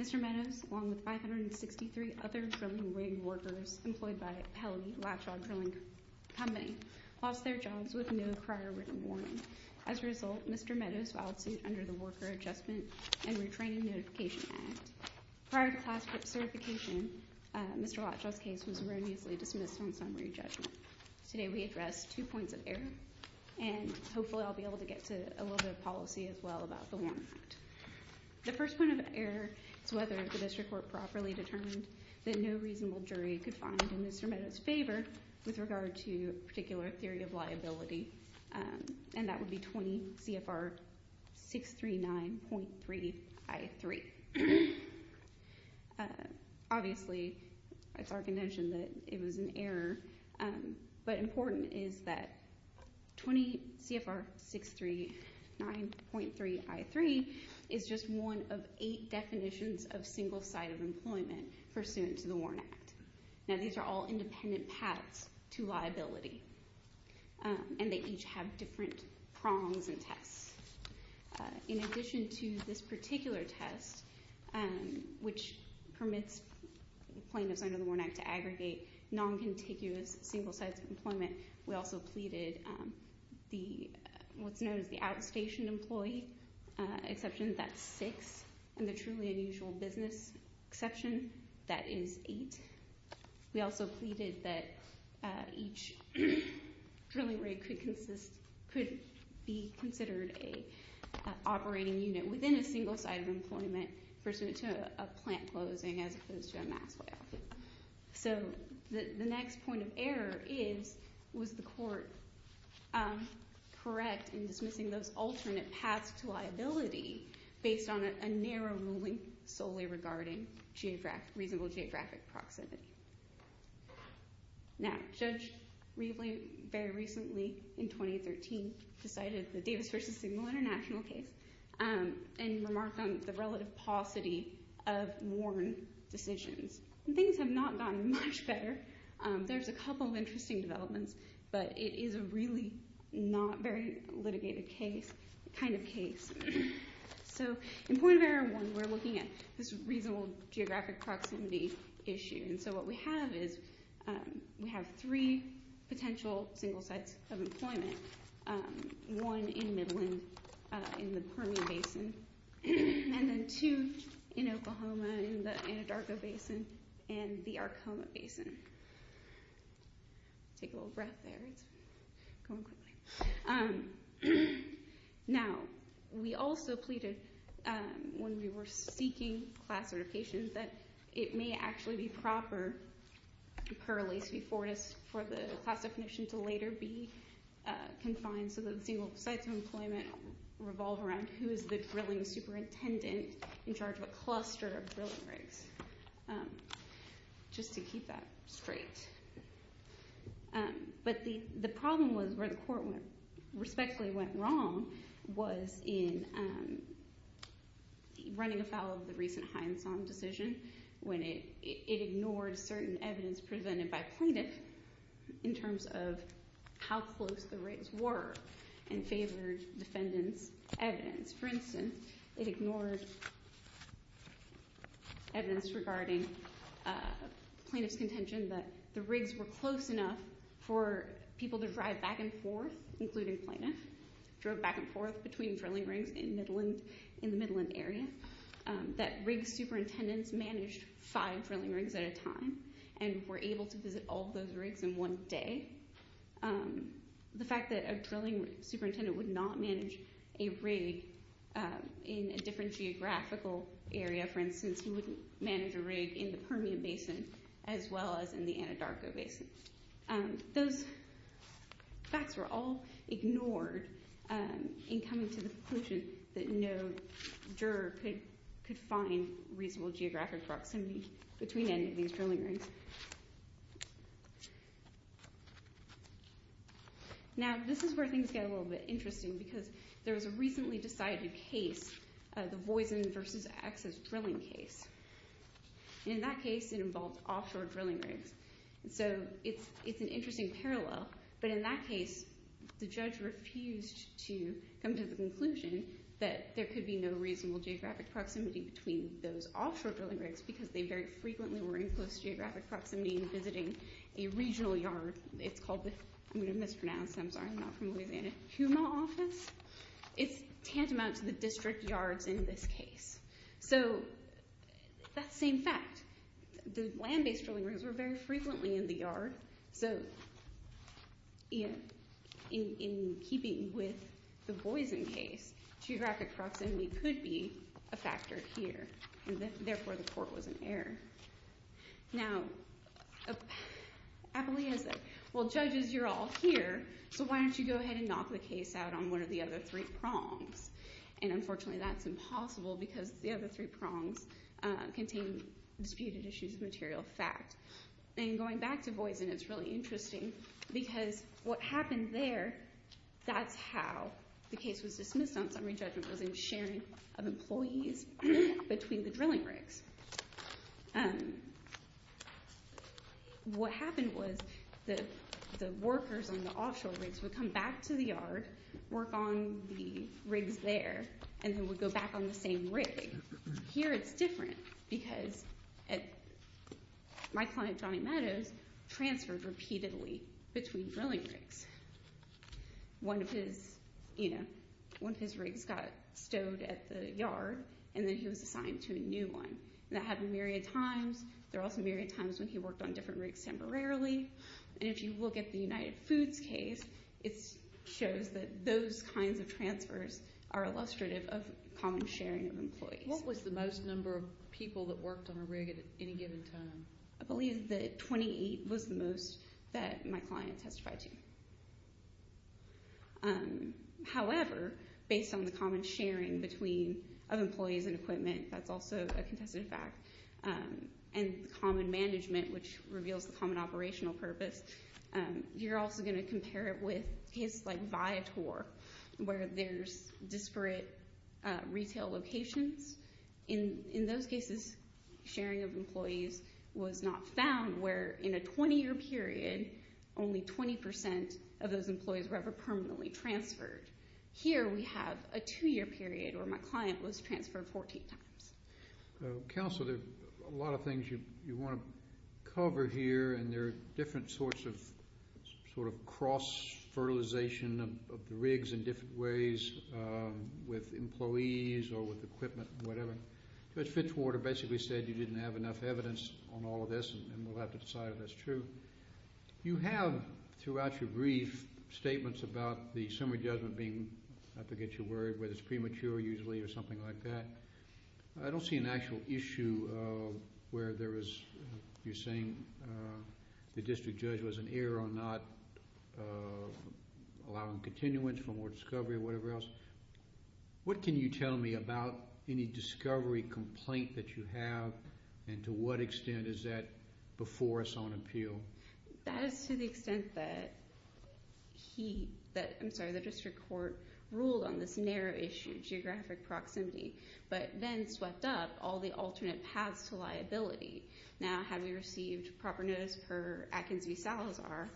Mr. Meadows, along with 563 other drilling rig workers employed by Pelley Latshaw Drilling Company, lost their jobs with no prior rig warning. As a result, Mr. Meadows filed suit under the Worker Adjustment and Retraining Notification Act. Prior to class certification, Mr. Latshaw's case was erroneously dismissed on summary judgment. Today, we address two points of error, and hopefully I'll be able to get to a little bit of policy as well about the WARN Act. The first point of error is whether the district court properly determined that no reasonable jury could find in Mr. Meadows' favor with regard to a particular theory of liability, and that would be 20 CFR 639.3 I-3. Obviously, it's our contention that it was an error, but important is that 20 CFR 639.3 I-3 is just one of eight definitions of single-sided employment pursuant to the WARN Act. Now, these are all independent paths to liability, and they each have different prongs and tests. In addition to this particular test, which permits plaintiffs under the WARN Act to aggregate non-contiguous single-sided employment, we also pleaded what's known as the outstation employee exception, that's six, and the truly unusual business exception, that is eight. We also pleaded that each drilling rig could be considered an operating unit within a single-sided employment pursuant to a plant closing as opposed to a mass layoff. So the next point of error is, was the court correct in dismissing those alternate paths to liability based on a narrow ruling solely regarding reasonable geographic proximity? Now, Judge Reveley very recently, in 2013, decided the Davis v. Signal International case and remarked on the relative paucity of WARN decisions. Things have not gotten much better. There's a couple of interesting developments, but it is a really not very litigated case, kind of case. So in point of error one, we're looking at this reasonable geographic proximity issue, and so what we have is we have three potential single sites of employment, one in Midland in the Permian Basin, and then two in Oklahoma in the Anadarko Basin and the Arcoma Basin. Take a little breath there. It's going quickly. Now, we also pleaded when we were seeking class certification that it may actually be proper for the class definition to later be confined so that the single sites of employment revolve around who is the drilling superintendent in charge of a cluster of drilling rigs, just to keep that straight. But the problem was where the court respectfully went wrong was in running afoul of the recent Hindson decision when it ignored certain evidence presented by plaintiff in terms of how close the rigs were and favored defendant's evidence. For instance, it ignored evidence regarding plaintiff's contention that the rigs were close enough for people to drive back and forth, including plaintiff, drove back and forth between drilling rigs in the Midland area, that rig superintendents managed five drilling rigs at a time and were able to visit all those rigs in one day. The fact that a drilling superintendent would not manage a rig in a different geographical area, for instance, he wouldn't manage a rig in the Permian Basin as well as in the Anadarko Basin. Those facts were all ignored in coming to the conclusion that no juror could find reasonable geographic proximity between any of these drilling rigs. Now this is where things get a little bit interesting because there was a recently decided case, the Voisin v. Axis drilling case. In that case, it involved offshore drilling rigs. So it's an interesting parallel, but in that case, the judge refused to come to the conclusion that there could be no reasonable geographic proximity between those offshore drilling rigs because they very frequently were in close geographic proximity in visiting a regional yard. It's called the, I'm going to mispronounce, I'm sorry, I'm not from Louisiana, Puma office. It's tantamount to the district yards in this case. So that's the same fact. The land-based drilling rigs were very frequently in the yard, so in keeping with the Voisin case, geographic proximity could be a factor here. Therefore, the court was in error. Now, Appalachia said, well, judges, you're all here, so why don't you go ahead and knock the case out on one of the other three prongs? Unfortunately, that's impossible because the other three prongs contain disputed issues of material fact. Going back to Voisin, it's really interesting because what happened there, that's how the case was dismissed on summary judgment, was in sharing of employees between the drilling rigs. What happened was that the workers on the offshore rigs would come back to the yard, work on the rigs there, and then would go back on the same rig. Here it's different because my client, Johnny Meadows, transferred repeatedly between drilling rigs. One of his rigs got stowed at the yard, and then he was assigned to a new one. That happened a myriad of times. There were also a myriad of times when he worked on different rigs temporarily. If you look at the United Foods case, it shows that those kinds of transfers are illustrative of common sharing of employees. What was the most number of people that worked on a rig at any given time? I believe that 28 was the most that my client testified to. However, based on the common sharing of employees and equipment, that's also a contested fact, and common management, which reveals the common operational purpose. You're also going to compare it with cases like Viator, where there's disparate retail locations. In those cases, sharing of employees was not found, where in a 20-year period, only 20 percent of those employees were ever permanently transferred. Here we have a two-year period where my client was transferred 14 times. Counsel, there are a lot of things you want to cover here, and there are different sorts of cross-fertilization of the rigs in different ways, with employees or with equipment or whatever. Judge Fitzwater basically said you didn't have enough evidence on all of this, and we'll have to decide if that's true. You have, throughout your brief, statements about the summary judgment being, I forget your word, whether it's premature usually or something like that. I don't see an actual issue where there is, you're saying the district judge was an error or not allowing continuance for more discovery or whatever else. What can you tell me about any discovery complaint that you have, and to what extent is that before us on appeal? That is to the extent that the district court ruled on this narrow issue, geographic proximity, but then swept up all the alternate paths to liability. Now, had we received proper notice per Atkins v. Salazar,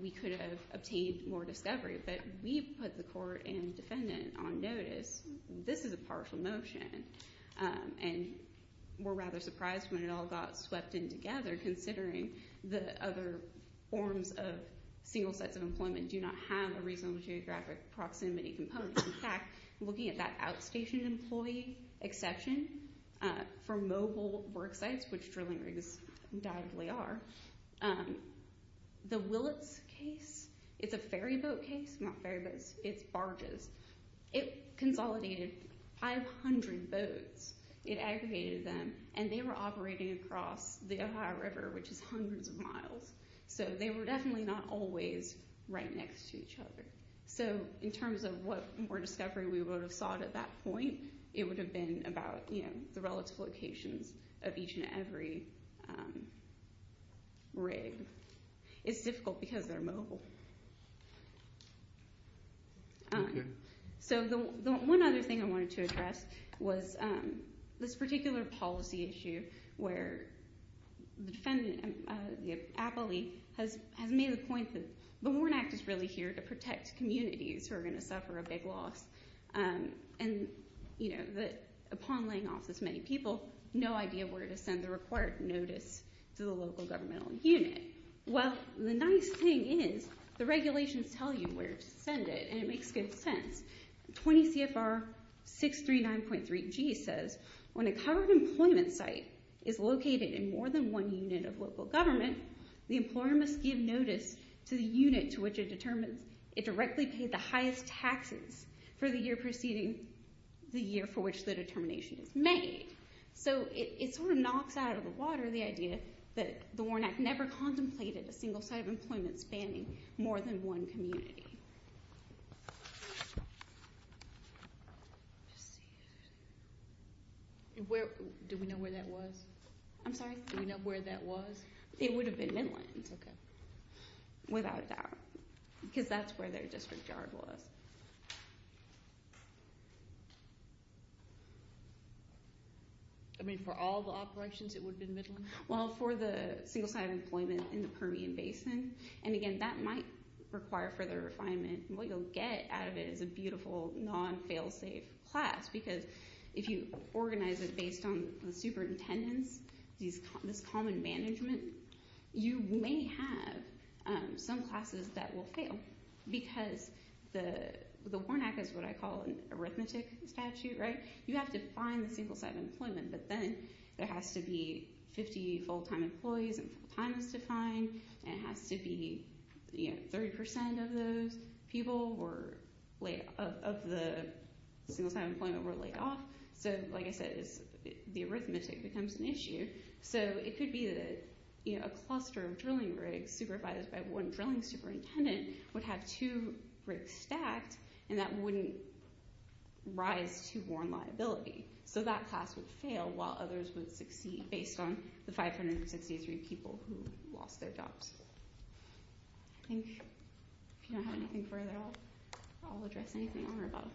we could have obtained more discovery, but we put the court and defendant on notice. This is a partial motion, and we're rather surprised when it all got swept in together considering the other forms of single sets of employment do not have a reasonable geographic proximity component. In fact, looking at that outstation employee exception for mobile work sites, which drilling rigs undoubtedly are, the Willits case, it's a ferry boat case, not ferry boats, it's barges. It consolidated 500 boats. It aggregated them, and they were operating across the Ohio River, which is hundreds of miles, so they were definitely not always right next to each other. So in terms of what more discovery we would have sought at that point, it would have been about the relative locations of each and every rig. It's difficult because they're mobile. Okay. So one other thing I wanted to address was this particular policy issue where the defendant, the appellee, has made the point that the WARN Act is really here to protect communities who are going to suffer a big loss, and upon laying off this many people, no idea where to send the required notice to the local governmental unit. Well, the nice thing is the regulations tell you where to send it, and it makes good sense. 20 CFR 639.3G says, when a covered employment site is located in more than one unit of local government, the employer must give notice to the unit to which it directly paid the highest taxes for the year preceding the year for which the determination is made. So it sort of knocks out of the water the idea that the WARN Act never contemplated a single site of employment spanning more than one community. Do we know where that was? I'm sorry? Do we know where that was? It would have been Midlands. Okay. Without a doubt, because that's where their district yard was. I mean, for all the operations, it would have been Midlands? Well, for the single site of employment in the Permian Basin, and again, that might require further refinement. What you'll get out of it is a beautiful non-fail-safe class because if you organize it based on the superintendents, this common management, you may have some classes that will fail because the WARN Act is what I call an arithmetic statute. You have to find the single site of employment, but then there has to be 50 full-time employees and full-time is defined, and it has to be 30% of the single site of employment were laid off. So like I said, the arithmetic becomes an issue. So it could be that a cluster of drilling rigs supervised by one drilling superintendent would have two rigs stacked and that wouldn't rise to WARN liability. So that class would fail while others would succeed based on the 563 people who lost their jobs. I think if you don't have anything further, I'll address anything on or above. Thank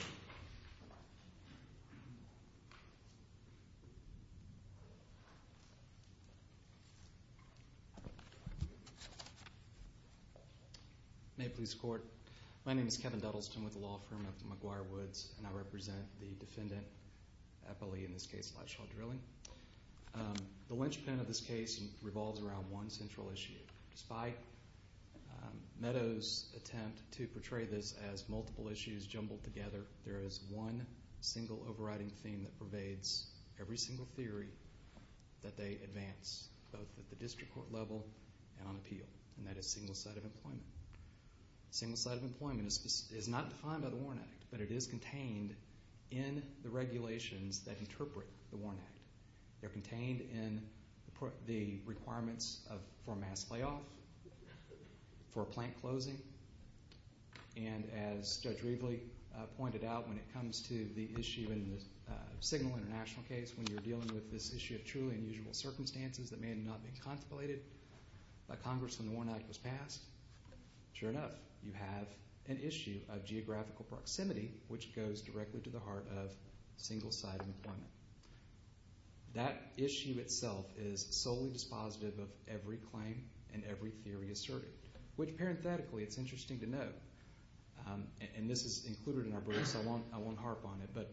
you. May it please the Court. My name is Kevin Duddleston with the law firm of McGuire Woods, and I represent the defendant, Eppley, in this case, Liveshaw Drilling. The linchpin of this case revolves around one central issue. Despite Meadows' attempt to portray this as multiple issues jumbled together, there is one single overriding theme that pervades every single theory that they advance, both at the district court level and on appeal, and that is single site of employment. Single site of employment is not defined by the WARN Act, but it is contained in the regulations that interpret the WARN Act. They're contained in the requirements for a mass layoff, for a plant closing, and as Judge Reveley pointed out, when it comes to the issue in the Signal International case, when you're dealing with this issue of truly unusual circumstances that may not have been contemplated by Congress when the WARN Act was passed, sure enough, you have an issue of geographical proximity which goes directly to the heart of single site employment. That issue itself is solely dispositive of every claim and every theory asserted, which parenthetically it's interesting to note. And this is included in our brief, so I won't harp on it, but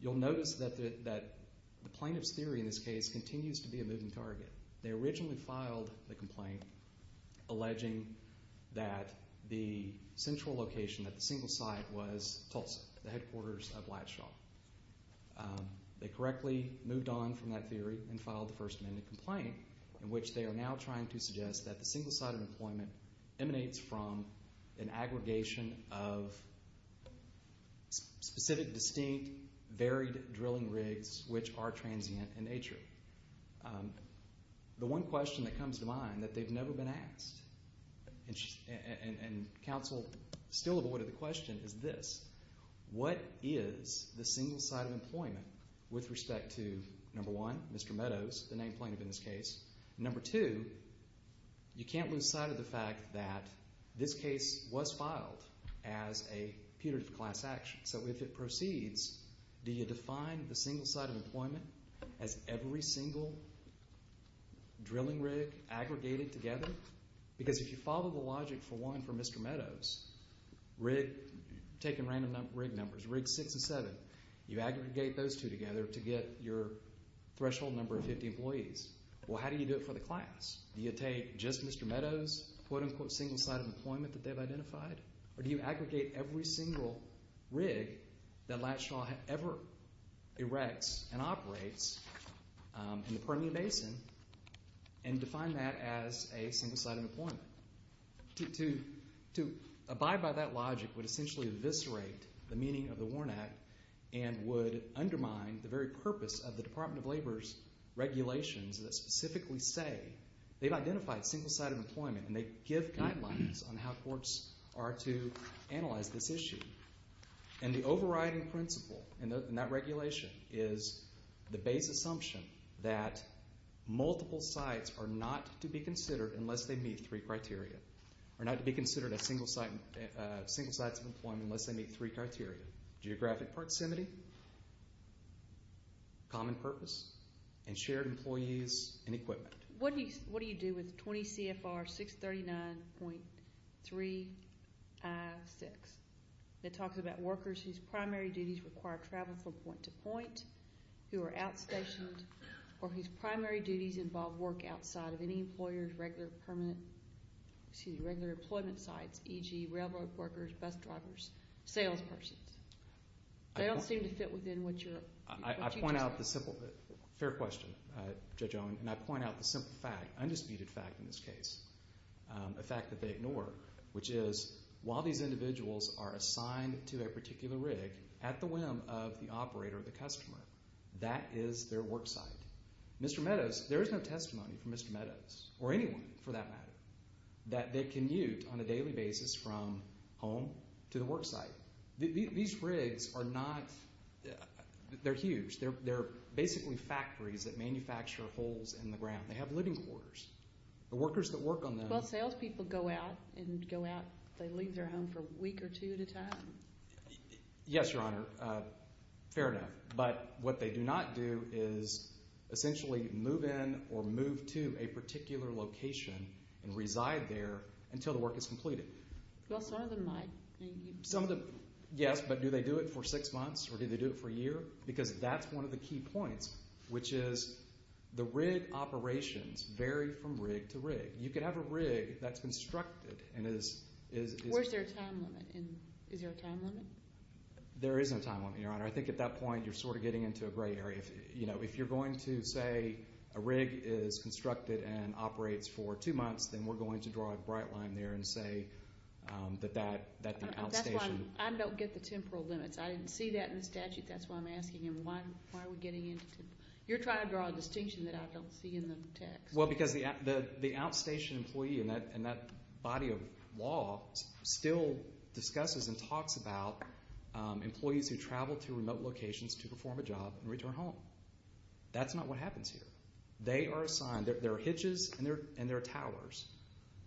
you'll notice that the plaintiff's theory in this case continues to be a moving target. They originally filed the complaint alleging that the central location, that the single site was Tulsa, the headquarters of Ladshaw. They correctly moved on from that theory and filed the First Amendment complaint in which they are now trying to suggest that the single site of employment emanates from an aggregation of specific, distinct, varied drilling rigs which are transient in nature. The one question that comes to mind that they've never been asked, and counsel still avoided the question, is this. What is the single site of employment with respect to, number one, Mr. Meadows, the named plaintiff in this case? Number two, you can't lose sight of the fact that this case was filed as a putative class action. So if it proceeds, do you define the single site of employment as every single drilling rig aggregated together? Because if you follow the logic, for one, for Mr. Meadows, taking random rig numbers, rig six and seven, you aggregate those two together to get your threshold number of 50 employees. Well, how do you do it for the class? Do you take just Mr. Meadows' quote-unquote single site of employment that they've identified, or do you aggregate every single rig that Ladshaw ever erects and operates in the Permian Basin and define that as a single site of employment? To abide by that logic would essentially eviscerate the meaning of the WARN Act and would undermine the very purpose of the Department of Labor's regulations that specifically say they've identified single site of employment and they give guidelines on how courts are to analyze this issue. And the overriding principle in that regulation is the base assumption that multiple sites are not to be considered unless they meet three criteria, are not to be considered as single sites of employment unless they meet three criteria, geographic proximity, common purpose, and shared employees and equipment. What do you do with 20 CFR 639.3I6 that talks about workers whose primary duties require travel from point to point, who are outstationed, or whose primary duties involve work outside of any employer's regular employment sites, e.g. railroad workers, bus drivers, salespersons? They don't seem to fit within what you're talking about. Fair question, Judge Owen, and I point out the simple fact, undisputed fact in this case, a fact that they ignore, which is while these individuals are assigned to a particular rig at the whim of the operator or the customer, that is their work site. Mr. Meadows, there is no testimony from Mr. Meadows, or anyone for that matter, that they commute on a daily basis from home to the work site. These rigs are not, they're huge. They're basically factories that manufacture holes in the ground. They have living quarters. The workers that work on them. Well, salespeople go out and go out, they leave their home for a week or two at a time. Yes, Your Honor, fair enough. But what they do not do is essentially move in or move to a particular location and reside there until the work is completed. Well, some of them might. Yes, but do they do it for six months or do they do it for a year? Because that's one of the key points, which is the rig operations vary from rig to rig. You could have a rig that's constructed and is— Is there a time limit? There is no time limit, Your Honor. I think at that point you're sort of getting into a gray area. If you're going to say a rig is constructed and operates for two months, then we're going to draw a bright line there and say that the outstation— That's why I don't get the temporal limits. I didn't see that in the statute. That's why I'm asking him, why are we getting into— You're trying to draw a distinction that I don't see in the text. Well, because the outstation employee in that body of law still discusses and talks about employees who travel to remote locations to perform a job and return home. That's not what happens here. They are assigned—there are hitches and there are towers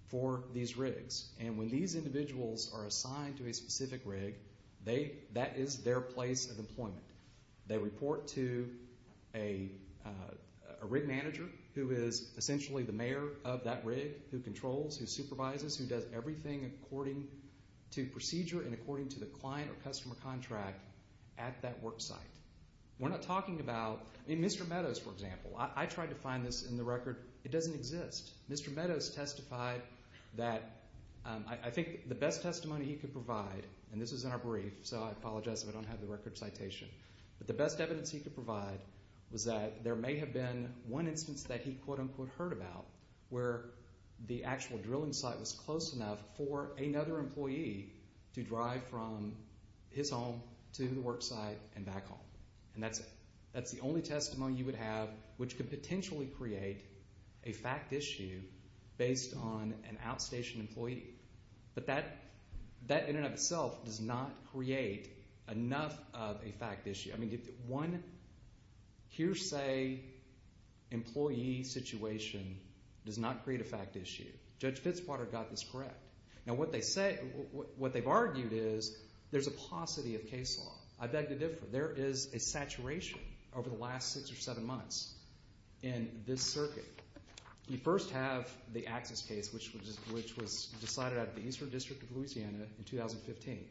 for these rigs, and when these individuals are assigned to a specific rig, that is their place of employment. They report to a rig manager who is essentially the mayor of that rig, who controls, who supervises, who does everything according to procedure and according to the client or customer contract at that work site. We're not talking about—Mr. Meadows, for example. I tried to find this in the record. It doesn't exist. Mr. Meadows testified that I think the best testimony he could provide, and this is in our brief, so I apologize if I don't have the record citation, but the best evidence he could provide was that there may have been one instance that he quote-unquote heard about where the actual drilling site was close enough for another employee to drive from his home to the work site and back home. And that's it. That's the only testimony you would have which could potentially create a fact issue based on an outstation employee. But that in and of itself does not create enough of a fact issue. I mean one hearsay employee situation does not create a fact issue. Judge Fitzpatrick got this correct. Now what they've argued is there's a paucity of case law. I beg to differ. There is a saturation over the last six or seven months in this circuit. You first have the Axis case, which was decided at the Eastern District of Louisiana in 2015.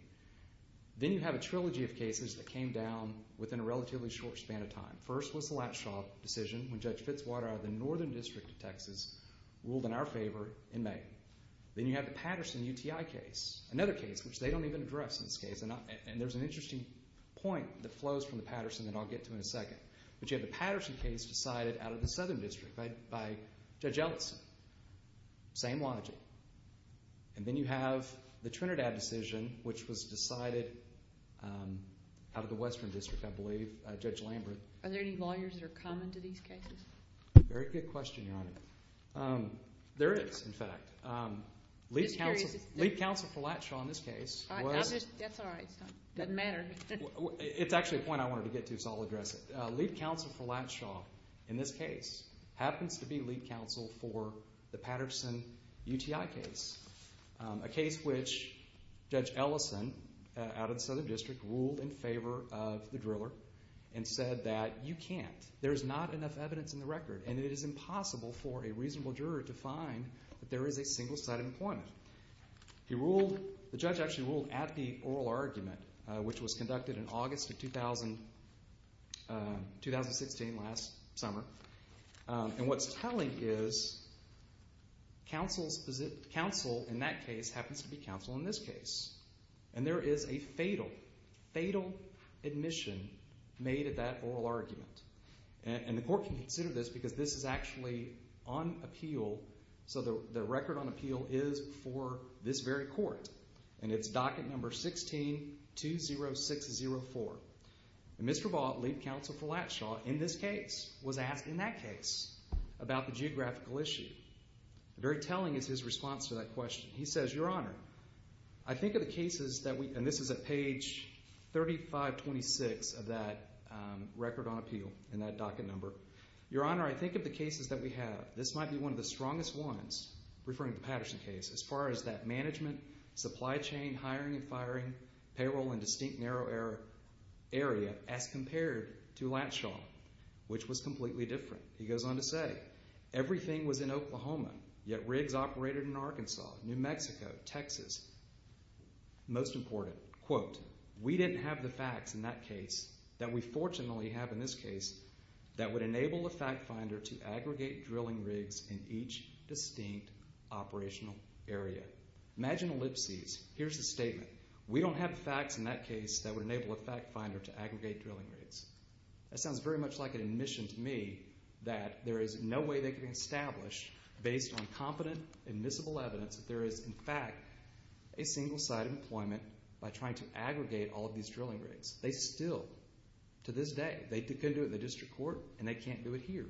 Then you have a trilogy of cases that came down within a relatively short span of time. First was the Latshaw decision when Judge Fitzwater of the Northern District of Texas ruled in our favor in May. Then you have the Patterson UTI case, another case which they don't even address in this case, and there's an interesting point that flows from the Patterson that I'll get to in a second. But you have the Patterson case decided out of the Southern District by Judge Ellison. Same logic. And then you have the Trinidad decision, which was decided out of the Western District, I believe, Judge Lambert. Are there any lawyers that are common to these cases? Very good question, Your Honor. There is, in fact. Lead counsel for Latshaw in this case was. That's all right. It doesn't matter. It's actually a point I wanted to get to, so I'll address it. Lead counsel for Latshaw in this case happens to be lead counsel for the Patterson UTI case, a case which Judge Ellison out of the Southern District ruled in favor of the driller and said that you can't. There is not enough evidence in the record, and it is impossible for a reasonable juror to find that there is a single-sided employment. He ruled. The judge actually ruled at the oral argument, which was conducted in August of 2016 last summer. And what's telling is counsel in that case happens to be counsel in this case. And there is a fatal, fatal admission made at that oral argument. And the court can consider this because this is actually on appeal. So the record on appeal is for this very court, and it's docket number 16-20604. And Mr. Vaught, lead counsel for Latshaw in this case, was asked in that case about the geographical issue. Very telling is his response to that question. He says, Your Honor, I think of the cases that we, and this is at page 3526 of that record on appeal and that docket number. Your Honor, I think of the cases that we have. This might be one of the strongest ones, referring to the Patterson case, as far as that management, supply chain, hiring and firing, payroll, and distinct narrow area as compared to Latshaw, which was completely different. He goes on to say, Everything was in Oklahoma, yet rigs operated in Arkansas, New Mexico, Texas. Most important, quote, We didn't have the facts in that case that we fortunately have in this case that would enable a fact finder to aggregate drilling rigs in each distinct operational area. Imagine ellipses. Here's the statement. We don't have the facts in that case that would enable a fact finder to aggregate drilling rigs. That sounds very much like an admission to me that there is no way they could establish, based on competent admissible evidence, that there is, in fact, a single-sided employment by trying to aggregate all of these drilling rigs. They still, to this day, they couldn't do it. They can't do it in the district court, and they can't do it here.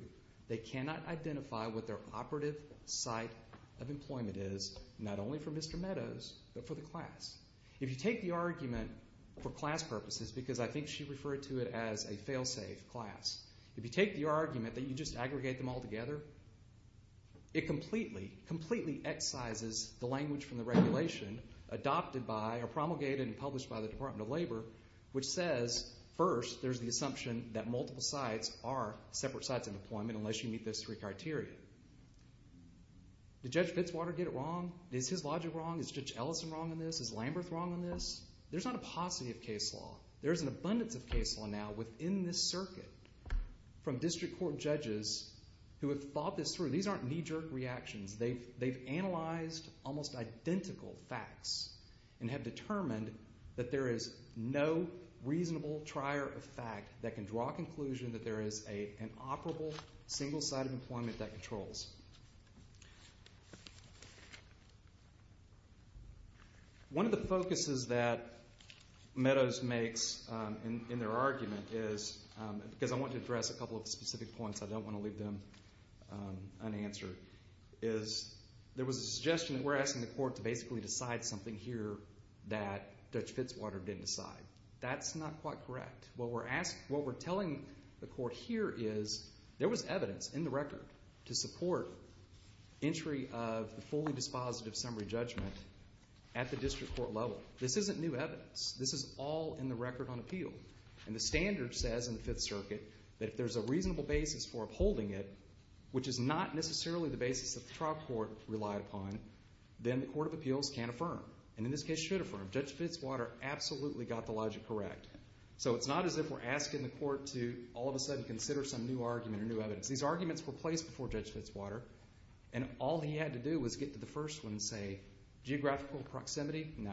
They cannot identify what their operative site of employment is, not only for Mr. Meadows, but for the class. If you take the argument for class purposes, because I think she referred to it as a fail-safe class, if you take the argument that you just aggregate them all together, it completely, completely excises the language from the regulation adopted by or promulgated and published by the Department of Labor, which says, first, there's the assumption that multiple sites are separate sites of employment, unless you meet those three criteria. Did Judge Fitzwater get it wrong? Is his logic wrong? Is Judge Ellison wrong on this? Is Lamberth wrong on this? There's not a paucity of case law. There is an abundance of case law now within this circuit from district court judges who have thought this through. These aren't knee-jerk reactions. They've analyzed almost identical facts and have determined that there is no reasonable trier of fact that can draw a conclusion that there is an operable single site of employment that controls. One of the focuses that Meadows makes in their argument is, because I want to address a couple of specific points. I don't want to leave them unanswered, is there was a suggestion that we're asking the court to basically decide something here that Judge Fitzwater didn't decide. That's not quite correct. What we're telling the court here is there was evidence in the record to support entry of the fully dispositive summary judgment at the district court level. This isn't new evidence. This is all in the record on appeal. The standard says in the Fifth Circuit that if there's a reasonable basis for upholding it, which is not necessarily the basis that the trial court relied upon, then the court of appeals can't affirm, and in this case should affirm. Judge Fitzwater absolutely got the logic correct. So it's not as if we're asking the court to all of a sudden consider some new argument or new evidence. These arguments were placed before Judge Fitzwater, and all he had to do was get to the first one and say, geographical proximity, no.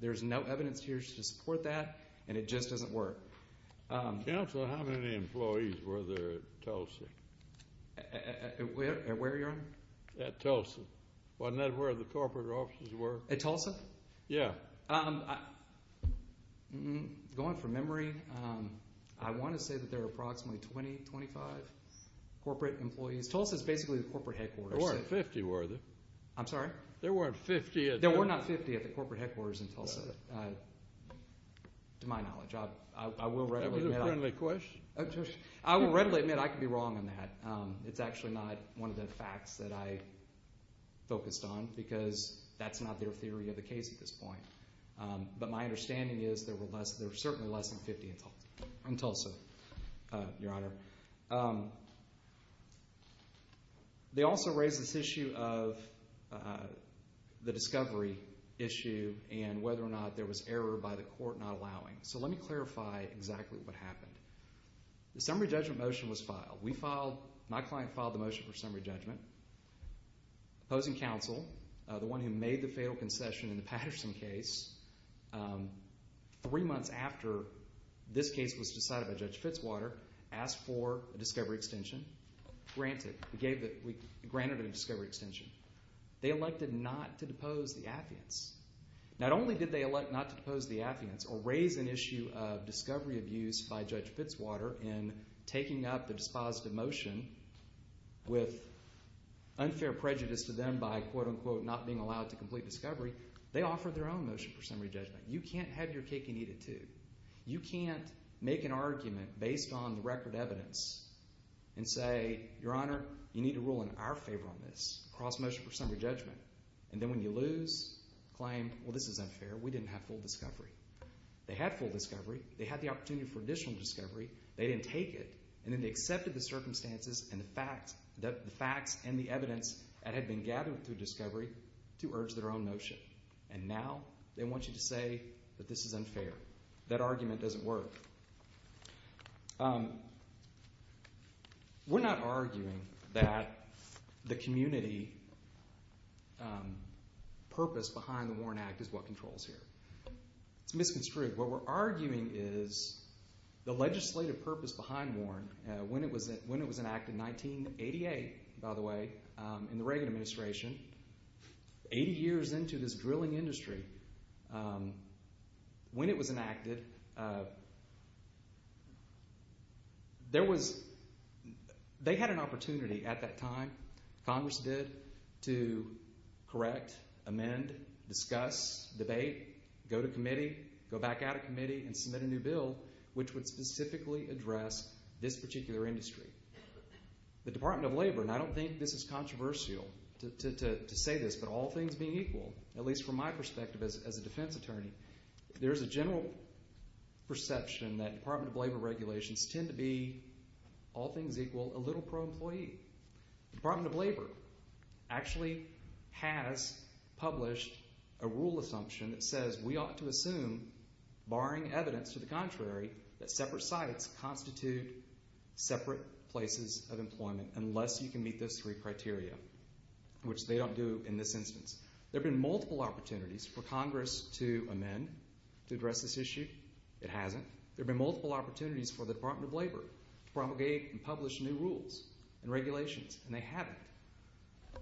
There's no evidence here to support that, and it just doesn't work. Counsel, how many employees were there at Tulsa? At where, Your Honor? At Tulsa. Wasn't that where the corporate offices were? At Tulsa? Yeah. Going from memory, I want to say that there were approximately 20, 25 corporate employees. Tulsa's basically the corporate headquarters. There weren't 50, were there? I'm sorry? There weren't 50 at Tulsa? There weren't 50 employees in Tulsa, to my knowledge. I will readily admit I could be wrong on that. It's actually not one of the facts that I focused on, because that's not their theory of the case at this point. But my understanding is there were certainly less than 50 in Tulsa, Your Honor. They also raised this issue of the discovery issue and whether or not there was error by the court not allowing. So let me clarify exactly what happened. The summary judgment motion was filed. My client filed the motion for summary judgment. Opposing counsel, the one who made the fatal concession in the Patterson case, three months after this case was decided by Judge Fitzwater, asked for a discovery extension, granted it a discovery extension. They elected not to depose the affidavits. Not only did they elect not to depose the affidavits or raise an issue of discovery abuse by Judge Fitzwater in taking up the dispositive motion with unfair prejudice to them by, quote-unquote, not being allowed to complete discovery, they offered their own motion for summary judgment. You can't have your cake and eat it too. You can't make an argument based on the record evidence and say, Your Honor, you need to rule in our favor on this, cross motion for summary judgment, and then when you lose, claim, well, this is unfair, we didn't have full discovery. They had full discovery. They had the opportunity for additional discovery. They didn't take it, and then they accepted the circumstances and the facts and the evidence that had been gathered through discovery to urge their own motion. And now they want you to say that this is unfair. That argument doesn't work. We're not arguing that the community purpose behind the Warren Act is what controls here. It's misconstrued. What we're arguing is the legislative purpose behind Warren, when it was enacted, 1988, by the way, in the Reagan administration, 80 years into this drilling industry, when it was enacted, they had an opportunity at that time, Congress did, to correct, amend, discuss, debate, go to committee, go back out of committee and submit a new bill which would specifically address this particular industry. The Department of Labor, and I don't think this is controversial to say this, but all things being equal, at least from my perspective as a defense attorney, there's a general perception that Department of Labor regulations tend to be all things equal, a little pro-employee. The Department of Labor actually has published a rule assumption that says we ought to assume, barring evidence to the contrary, that separate sites constitute separate places of employment unless you can meet those three criteria, which they don't do in this instance. There have been multiple opportunities for Congress to amend, to address this issue. It hasn't. There have been multiple opportunities for the Department of Labor to propagate and publish new rules and regulations, and they haven't.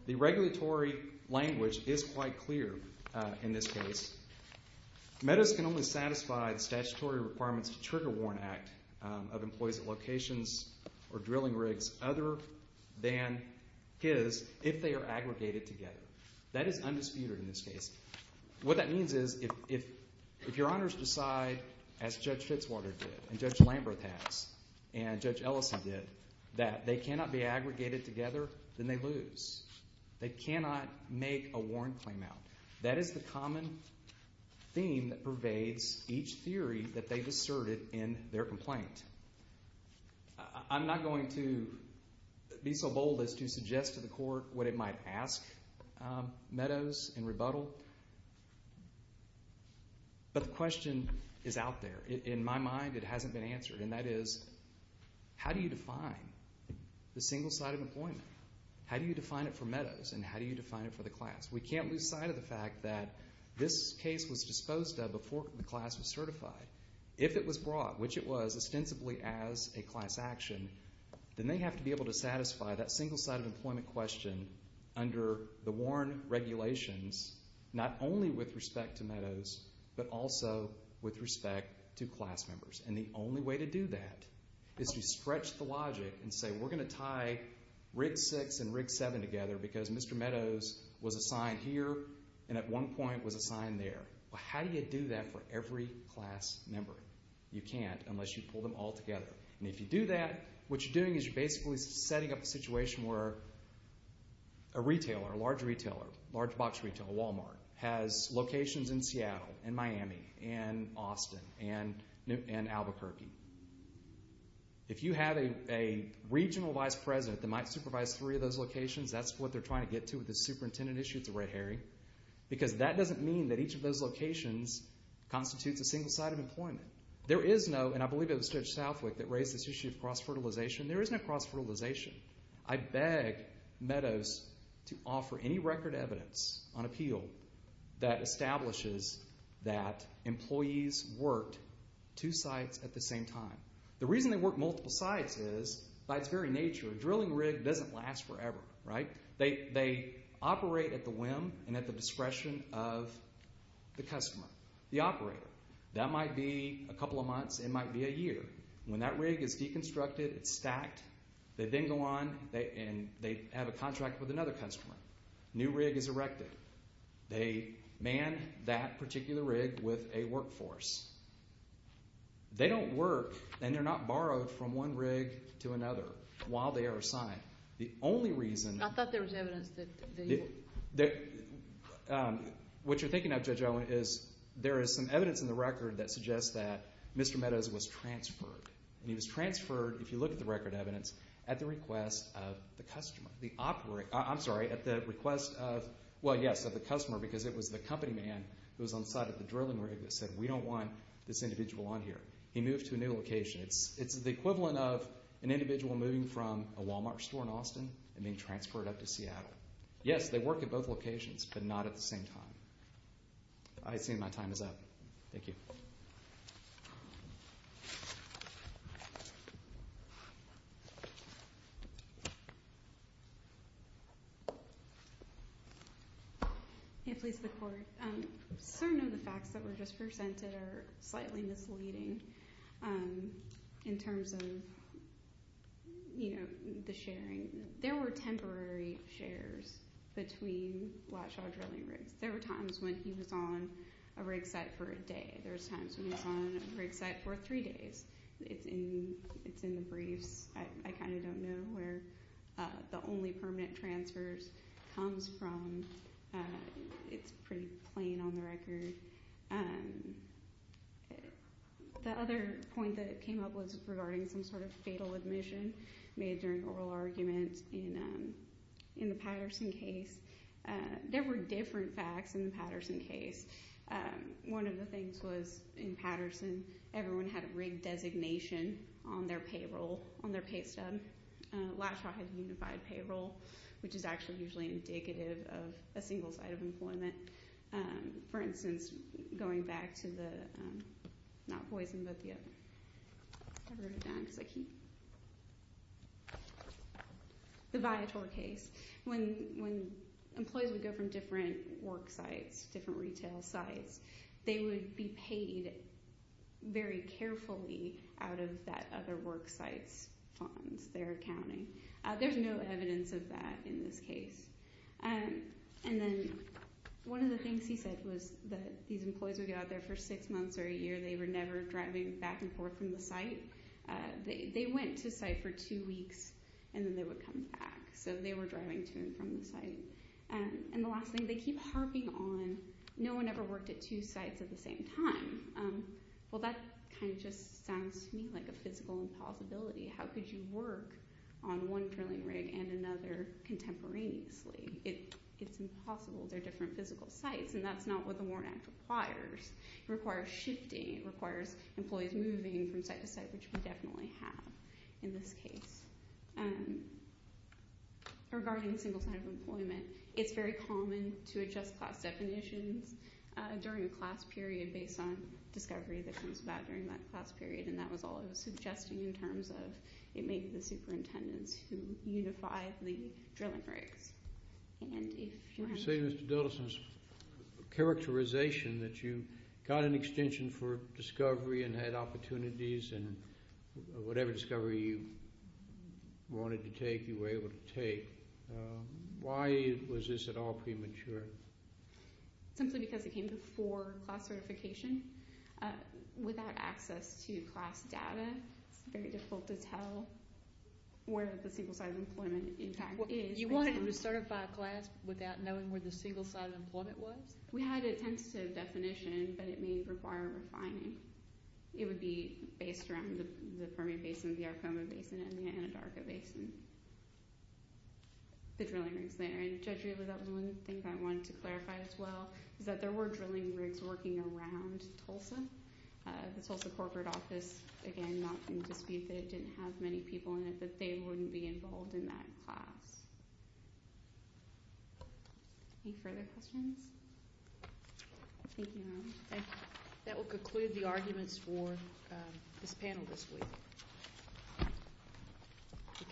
The regulatory language is quite clear in this case. Meadows can only satisfy the statutory requirements of the Trigger Warrant Act of employees at locations or drilling rigs other than his if they are aggregated together. That is undisputed in this case. What that means is if your honors decide, as Judge Fitzwater did and Judge Lamberth has and Judge Ellison did, that they cannot be aggregated together, then they lose. They cannot make a warrant claim out. That is the common theme that pervades each theory that they've asserted in their complaint. I'm not going to be so bold as to suggest to the court what it might ask Meadows in rebuttal, but the question is out there. In my mind, it hasn't been answered, and that is, how do you define the single site of employment? How do you define it for Meadows, and how do you define it for the class? We can't lose sight of the fact that this case was disposed of before the class was certified. If it was brought, which it was, ostensibly as a class action, then they have to be able to satisfy that single site of employment question under the Warren regulations, not only with respect to Meadows, but also with respect to class members. And the only way to do that is to stretch the logic and say, we're going to tie Rig 6 and Rig 7 together because Mr. Meadows was assigned here and at one point was assigned there. How do you do that for every class member? You can't unless you pull them all together. And if you do that, what you're doing is you're basically setting up a situation where a retailer, a large retailer, a large box retailer, a Walmart, has locations in Seattle and Miami and Austin and Albuquerque. If you have a regional vice president that might supervise three of those locations, that's what they're trying to get to with the superintendent issue at the Red Herring because that doesn't mean that each of those locations constitutes a single site of employment. There is no, and I believe it was Judge Southwick that raised this issue of cross-fertilization. There is no cross-fertilization. I beg Meadows to offer any record evidence on appeal that establishes that employees worked two sites at the same time. The reason they worked multiple sites is, by its very nature, a drilling rig doesn't last forever. They operate at the whim and at the discretion of the customer, the operator. That might be a couple of months, it might be a year. When that rig is deconstructed, it's stacked, they then go on and they have a contract with another customer. A new rig is erected. They man that particular rig with a workforce. They don't work and they're not borrowed from one rig to another while they are assigned. The only reason— I thought there was evidence that— What you're thinking of, Judge Owen, is there is some evidence in the record that suggests that Mr. Meadows was transferred. He was transferred, if you look at the record evidence, at the request of the customer. I'm sorry, at the request of, well, yes, of the customer because it was the company man who was on site at the drilling rig that said we don't want this individual on here. He moved to a new location. It's the equivalent of an individual moving from a Walmart store in Austin and being transferred up to Seattle. Yes, they work at both locations, but not at the same time. I assume my time is up. Thank you. I can't please the Court. Certain of the facts that were just presented are slightly misleading in terms of the sharing. There were temporary shares between Blackshaw Drilling Rigs. There were times when he was on a rig site for a day. There were times when he was on a rig site for three days. It's in the briefs. I kind of don't know where the only permanent transfers comes from. It's pretty plain on the record. The other point that came up was regarding some sort of fatal admission made during oral arguments in the Patterson case. There were different facts in the Patterson case. One of the things was, in Patterson, everyone had a rig designation on their payroll, on their pay stub. Blackshaw has unified payroll, which is actually usually indicative of a single site of employment. For instance, going back to the Viator case, when employees would go from different work sites, different retail sites, they would be paid very carefully out of that other work site's funds, their accounting. There's no evidence of that in this case. One of the things he said was that these employees would go out there for six months or a year. They were never driving back and forth from the site. They went to site for two weeks, and then they would come back. So they were driving to and from the site. The last thing, they keep harping on, no one ever worked at two sites at the same time. Well, that kind of just sounds to me like a physical impossibility. How could you work on one drilling rig and another contemporaneously? It's impossible. They're different physical sites, and that's not what the Warren Act requires. It requires shifting. It requires employees moving from site to site, which we definitely have in this case. Regarding single-site employment, it's very common to adjust class definitions during a class period based on discovery that comes about during that class period, and that was all I was suggesting in terms of it may be the superintendents who unify the drilling rigs. You say, Mr. Dillerson, it's a characterization that you got an extension for discovery and had opportunities, and whatever discovery you wanted to take, you were able to take. Why was this at all premature? Simply because it came before class certification. Without access to class data, it's very difficult to tell where the single-site employment, in fact, is. You wanted to certify a class without knowing where the single-site employment was? We had a tentative definition, but it may require refining. It would be based around the Permian Basin, the Arcoma Basin, and the Anadarka Basin, the drilling rigs there. Judge Riegel, that was one thing I wanted to clarify as well, is that there were drilling rigs working around Tulsa. The Tulsa corporate office, again, not in dispute that it didn't have many people in it, but they wouldn't be involved in that class. Any further questions? Thank you, Ron. Thank you. That will conclude the arguments for this panel this week.